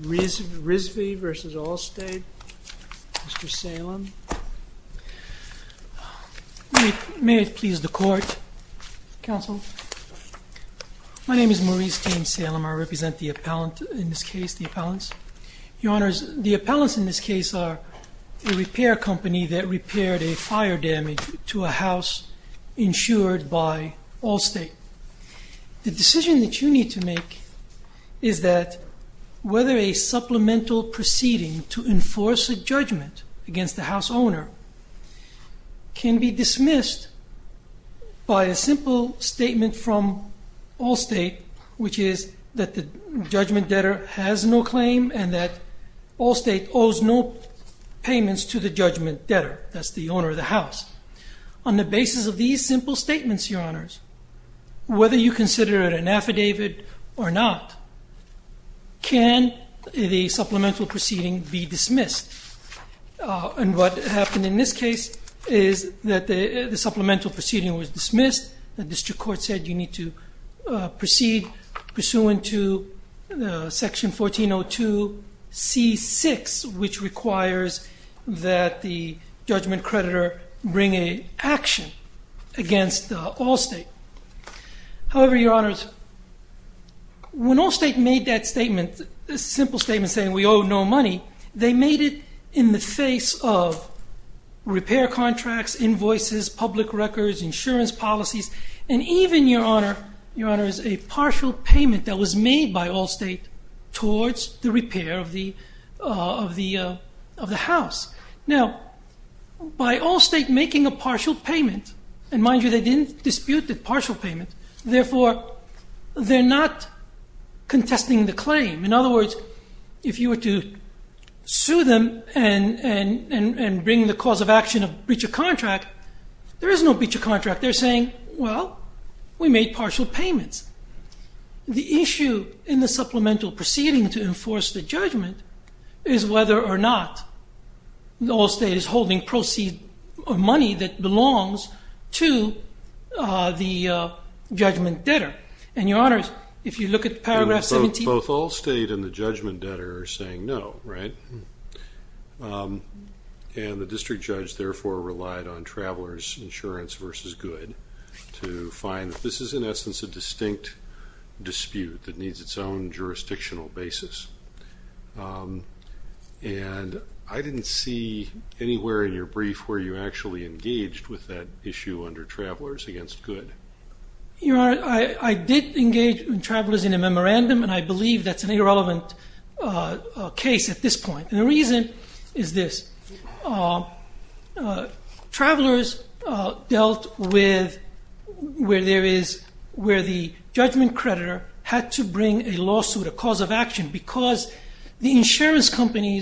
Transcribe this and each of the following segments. Rizvi v. Allstate, Mr. Salem. May it please the Court, Counsel. My name is Maurice James Salem. I represent the appellant in this case, the appellants. Your Honors, the appellants in this case are a repair company that repaired a fire damage to a house insured by Allstate. The decision that you need to make is that whether a supplemental proceeding to enforce a judgment against the house owner can be dismissed by a simple statement from Allstate, which is that the judgment debtor has no claim and that Allstate owes no payments to the judgment debtor, that's the owner of the house. On the basis of these simple statements, Your Honors, whether you consider it an affidavit or not, can the supplemental proceeding be dismissed? And what happened in this case is that the supplemental proceeding was dismissed, the district court said you need to proceed pursuant to section 1402 C6, which requires that the judgment creditor bring an action against Allstate. However, Your Honors, when Allstate made that statement, a simple statement saying we owe no money, they made it in the face of repair contracts, invoices, public records, insurance policies, and even, Your Honor, a partial payment that was made by Allstate towards the repair of the house. Now, by Allstate making a partial payment, and mind you they didn't dispute the partial payment, therefore they're not contesting the claim. In other words, if you were to sue them and bring the cause of action of breach of contract, there is no breach of contract. They're saying, well, we made partial payments. The issue in the supplemental proceeding to enforce the judgment is whether or not Allstate is holding proceeds of money that belongs to the judgment debtor. And, Your Honors, if you look at paragraph 17. Both Allstate and the judgment debtor are saying no, right? And the district judge, therefore, relied on Travelers Insurance v. Good to find that this is, in essence, a distinct dispute that needs its own jurisdictional basis. And I didn't see anywhere in your brief where you actually engaged with that issue under Travelers v. Good. Your Honor, I did engage with Travelers in a memorandum, and I believe that's an irrelevant case at this point. And the reason is this. Travelers dealt with where the judgment creditor had to bring a lawsuit, a cause of action, because the insurance company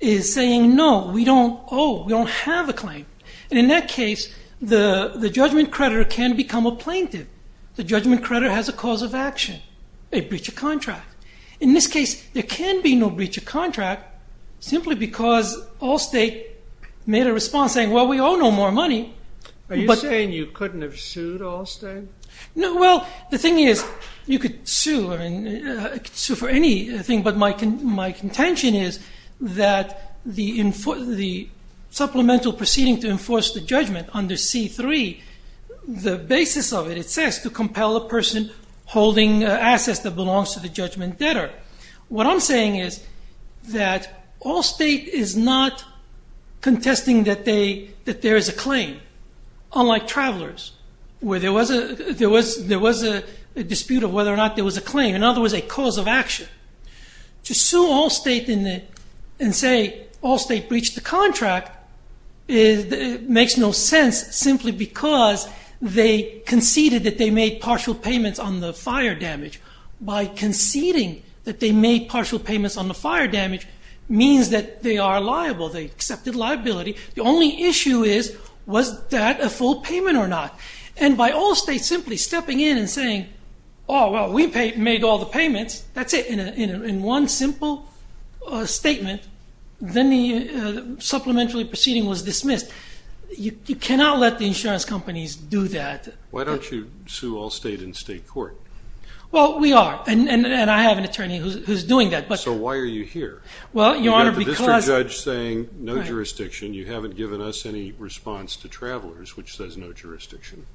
is saying, no, we don't owe, we don't have a claim. And in that case, the judgment creditor can become a plaintiff. The judgment creditor has a cause of action, a breach of contract. In this case, there can be no breach of contract, simply because Allstate made a response saying, well, we owe no more money. Are you saying you couldn't have sued Allstate? Well, the thing is, you could sue for anything, but my contention is that the supplemental proceeding to enforce the judgment under C-3, the basis of it, it says to compel a person holding assets that belongs to the judgment debtor. What I'm saying is that Allstate is not contesting that there is a claim, unlike Travelers, where there was a dispute of whether or not there was a claim, in other words, a cause of action. To sue Allstate and say Allstate breached the contract makes no sense, simply because they conceded that they made partial payments on the fire damage. By conceding that they made partial payments on the fire damage means that they are liable, they accepted liability. The only issue is, was that a full payment or not? And by Allstate simply stepping in and saying, oh, well, we made all the payments, that's it, in one simple statement, then the supplementary proceeding was dismissed. You cannot let the insurance companies do that. Why don't you sue Allstate in state court? Well, we are, and I have an attorney who's doing that. So why are you here? Well, Your Honor, because— You've got the district judge saying no jurisdiction. You haven't given us any response to Travelers, which says no jurisdiction.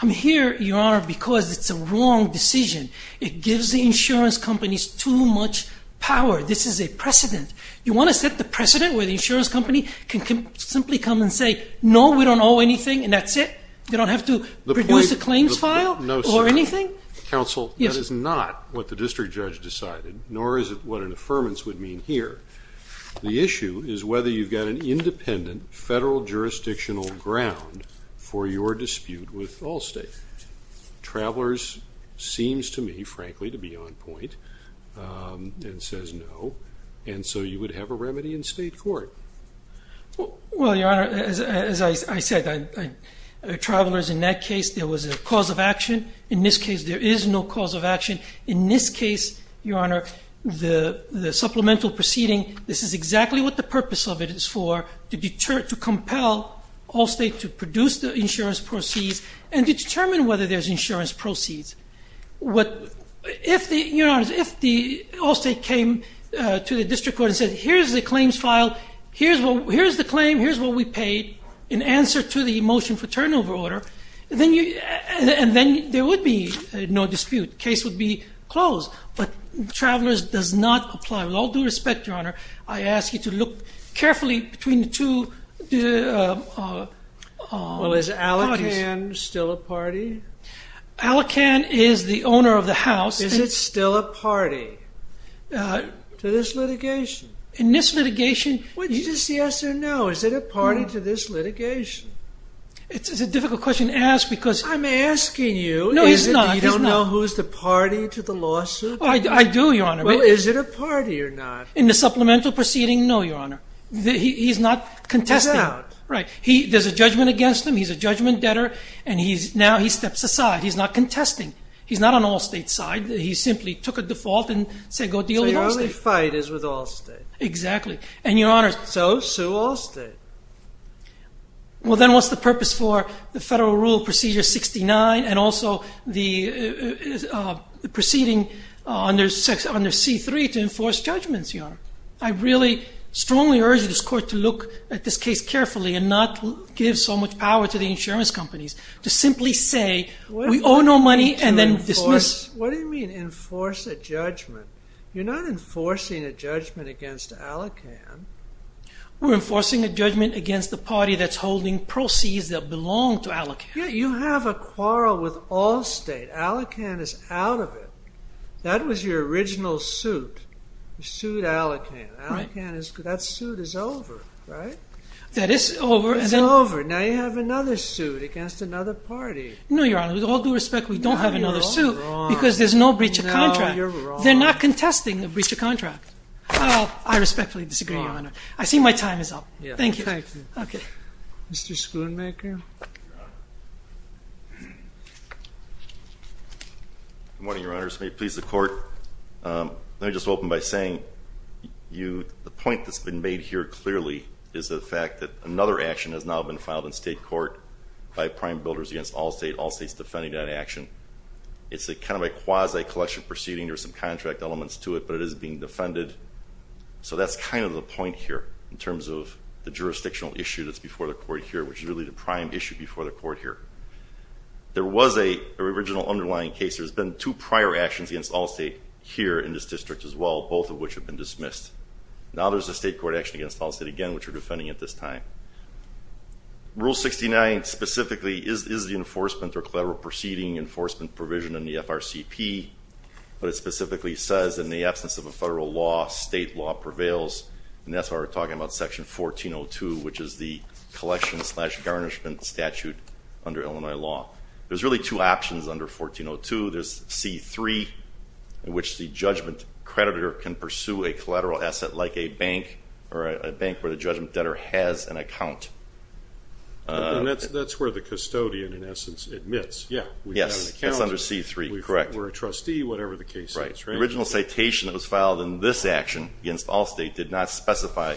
I'm here, Your Honor, because it's a wrong decision. It gives the insurance companies too much power. This is a precedent. You want to set the precedent where the insurance company can simply come and say, no, we don't owe anything, and that's it? They don't have to produce a claims file or anything? Counsel, that is not what the district judge decided, nor is it what an affirmance would mean here. The issue is whether you've got an independent federal jurisdictional ground for your dispute with Allstate. Travelers seems to me, frankly, to be on point and says no, and so you would have a remedy in state court. Well, Your Honor, as I said, Travelers, in that case, there was a cause of action. In this case, there is no cause of action. In this case, Your Honor, the supplemental proceeding, this is exactly what the purpose of it is for, to deter, to compel Allstate to produce the insurance proceeds and to determine whether there's insurance proceeds. If the Allstate came to the district court and said, here's the claims file, here's the claim, here's what we paid in answer to the motion for turnover order, and then there would be no dispute. Case would be closed, but Travelers does not apply. With all due respect, Your Honor, I ask you to look carefully between the two parties. Well, is Allocan still a party? Allocan is the owner of the house. Is it still a party to this litigation? In this litigation... Is this yes or no? Is it a party to this litigation? It's a difficult question to ask because... I'm asking you. No, it's not. You don't know who's the party to the lawsuit? I do, Your Honor. Well, is it a party or not? In the supplemental proceeding, no, Your Honor. He's not contesting. He's out. There's a judgment against him. He's a judgment debtor, and now he steps aside. He's not contesting. He's not on Allstate's side. He simply took a default and said, go deal with Allstate. So your only fight is with Allstate. Exactly, and Your Honor... So, sue Allstate. Well, then what's the purpose for the Federal Rule Procedure 69 and also the proceeding under C-3 to enforce judgments, Your Honor? I really strongly urge this court to look at this case carefully and not give so much power to the insurance companies to simply say, we owe no money and then dismiss. What do you mean enforce a judgment? You're not enforcing a judgment against Allocan. We're enforcing a judgment against the party that's holding proceeds that belong to Allocan. Yeah, you have a quarrel with Allstate. Allocan is out of it. That was your original suit. You sued Allocan. That suit is over, right? That is over. It's over. Now you have another suit against another party. No, Your Honor. With all due respect, we don't have another suit because there's no breach of contract. No, you're wrong. They're not contesting a breach of contract. I respectfully disagree, Your Honor. I see my time is up. Thank you. Okay. Mr. Schoonmaker. Good morning, Your Honors. May it please the Court, let me just open by saying the point that's been made here clearly is the fact that another action has now been filed in state court by prime builders against Allstate, Allstate's defending that action. It's kind of a quasi-collection proceeding. There are some contract elements to it, but it is being defended, so that's kind of the point here in terms of the jurisdictional issue that's before the Court here, which is really the prime issue before the Court here. There was an original underlying case. There's been two prior actions against Allstate here in this district as well, both of which have been dismissed. Now there's a state court action against Allstate again, which we're defending at this time. Rule 69 specifically is the enforcement or collateral proceeding enforcement provision in the FRCP, but it specifically says in the absence of a federal law, state law prevails, and that's why we're talking about Section 1402, which is the collection slash garnishment statute under Illinois law. There's really two options under 1402. There's C-3, in which the judgment creditor can pursue a collateral asset like a bank or a bank where the judgment debtor has an account. And that's where the custodian, in essence, admits. Yeah. Yes, that's under C-3, correct. Or a trustee, whatever the case is. Right. The original citation that was filed in this action against Allstate did not specify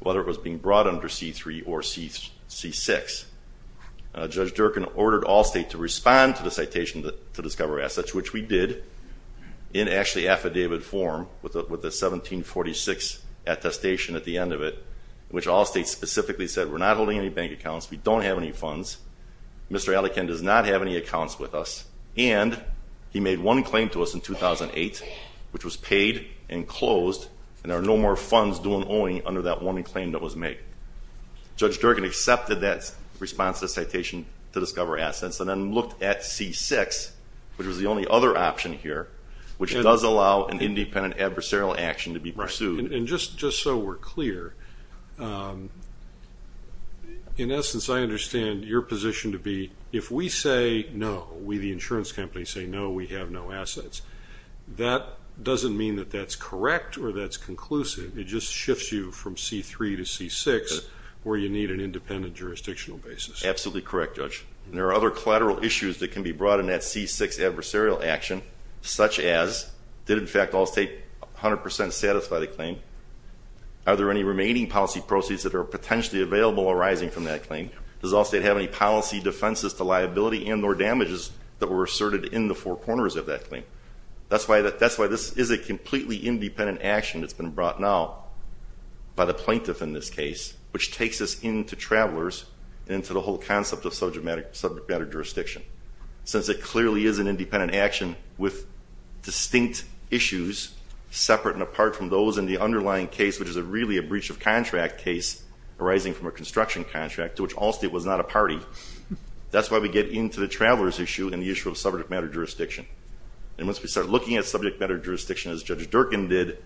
whether it was being brought under C-3 or C-6. Judge Durkan ordered Allstate to respond to the citation to discover assets, which we did in actually affidavit form with a 1746 attestation at the end of it, which Allstate specifically said we're not holding any bank accounts, we don't have any funds, Mr. Allikin does not have any accounts with us, and he made one claim to us in 2008, which was paid and closed, and there are no more funds due and owing under that one claim that was made. Judge Durkan accepted that response to the citation to discover assets and then looked at C-6, which was the only other option here, which does allow an independent adversarial action to be pursued. And just so we're clear, in essence, I understand your position to be if we say no, we, the insurance company, say no, we have no assets, that doesn't mean that that's correct or that's conclusive. It just shifts you from C-3 to C-6 where you need an independent jurisdictional basis. Absolutely correct, Judge. There are other collateral issues that can be brought in that C-6 adversarial action, such as did, in fact, Allstate 100% satisfy the claim? Are there any remaining policy proceeds that are potentially available arising from that claim? Does Allstate have any policy defenses to liability and or damages that were asserted in the four corners of that claim? That's why this is a completely independent action that's been brought now by the plaintiff in this case, which takes us into travelers and into the whole concept of subject matter jurisdiction. Since it clearly is an independent action with distinct issues separate and apart from those in the underlying case, which is really a breach of contract case arising from a construction contract, to which Allstate was not a party, that's why we get into the travelers issue and the issue of subject matter jurisdiction. And once we start looking at subject matter jurisdiction as Judge Durkin did,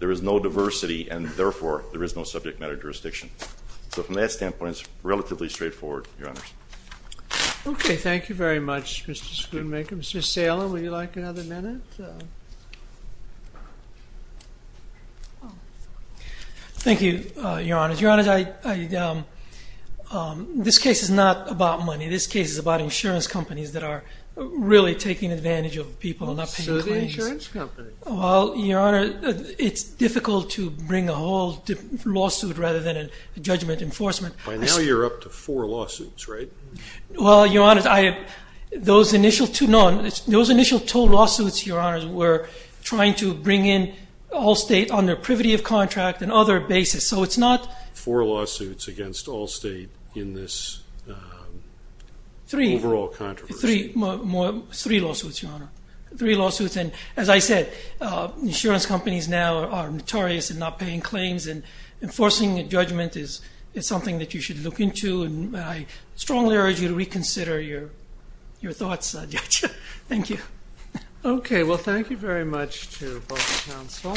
there is no diversity and, therefore, there is no subject matter jurisdiction. So from that standpoint, it's relatively straightforward, Your Honors. Okay, thank you very much, Mr. Schoonmaker. Mr. Salem, would you like another minute? Thank you, Your Honors. Your Honors, this case is not about money. This case is about insurance companies that are really taking advantage of people and not paying claims. So the insurance companies. Well, Your Honor, it's difficult to bring a whole lawsuit rather than a judgment enforcement. By now, you're up to four lawsuits, right? Well, Your Honors, those initial two lawsuits, Your Honors, were trying to bring in Allstate on their privity of contract and other basis. So it's not. Four lawsuits against Allstate in this overall controversy. Three lawsuits, Your Honor, three lawsuits. And as I said, insurance companies now are notorious in not paying claims and enforcing a judgment is something that you should look into. And I strongly urge you to reconsider your thoughts, Judge. Thank you. Okay. Well, thank you very much to both counsel.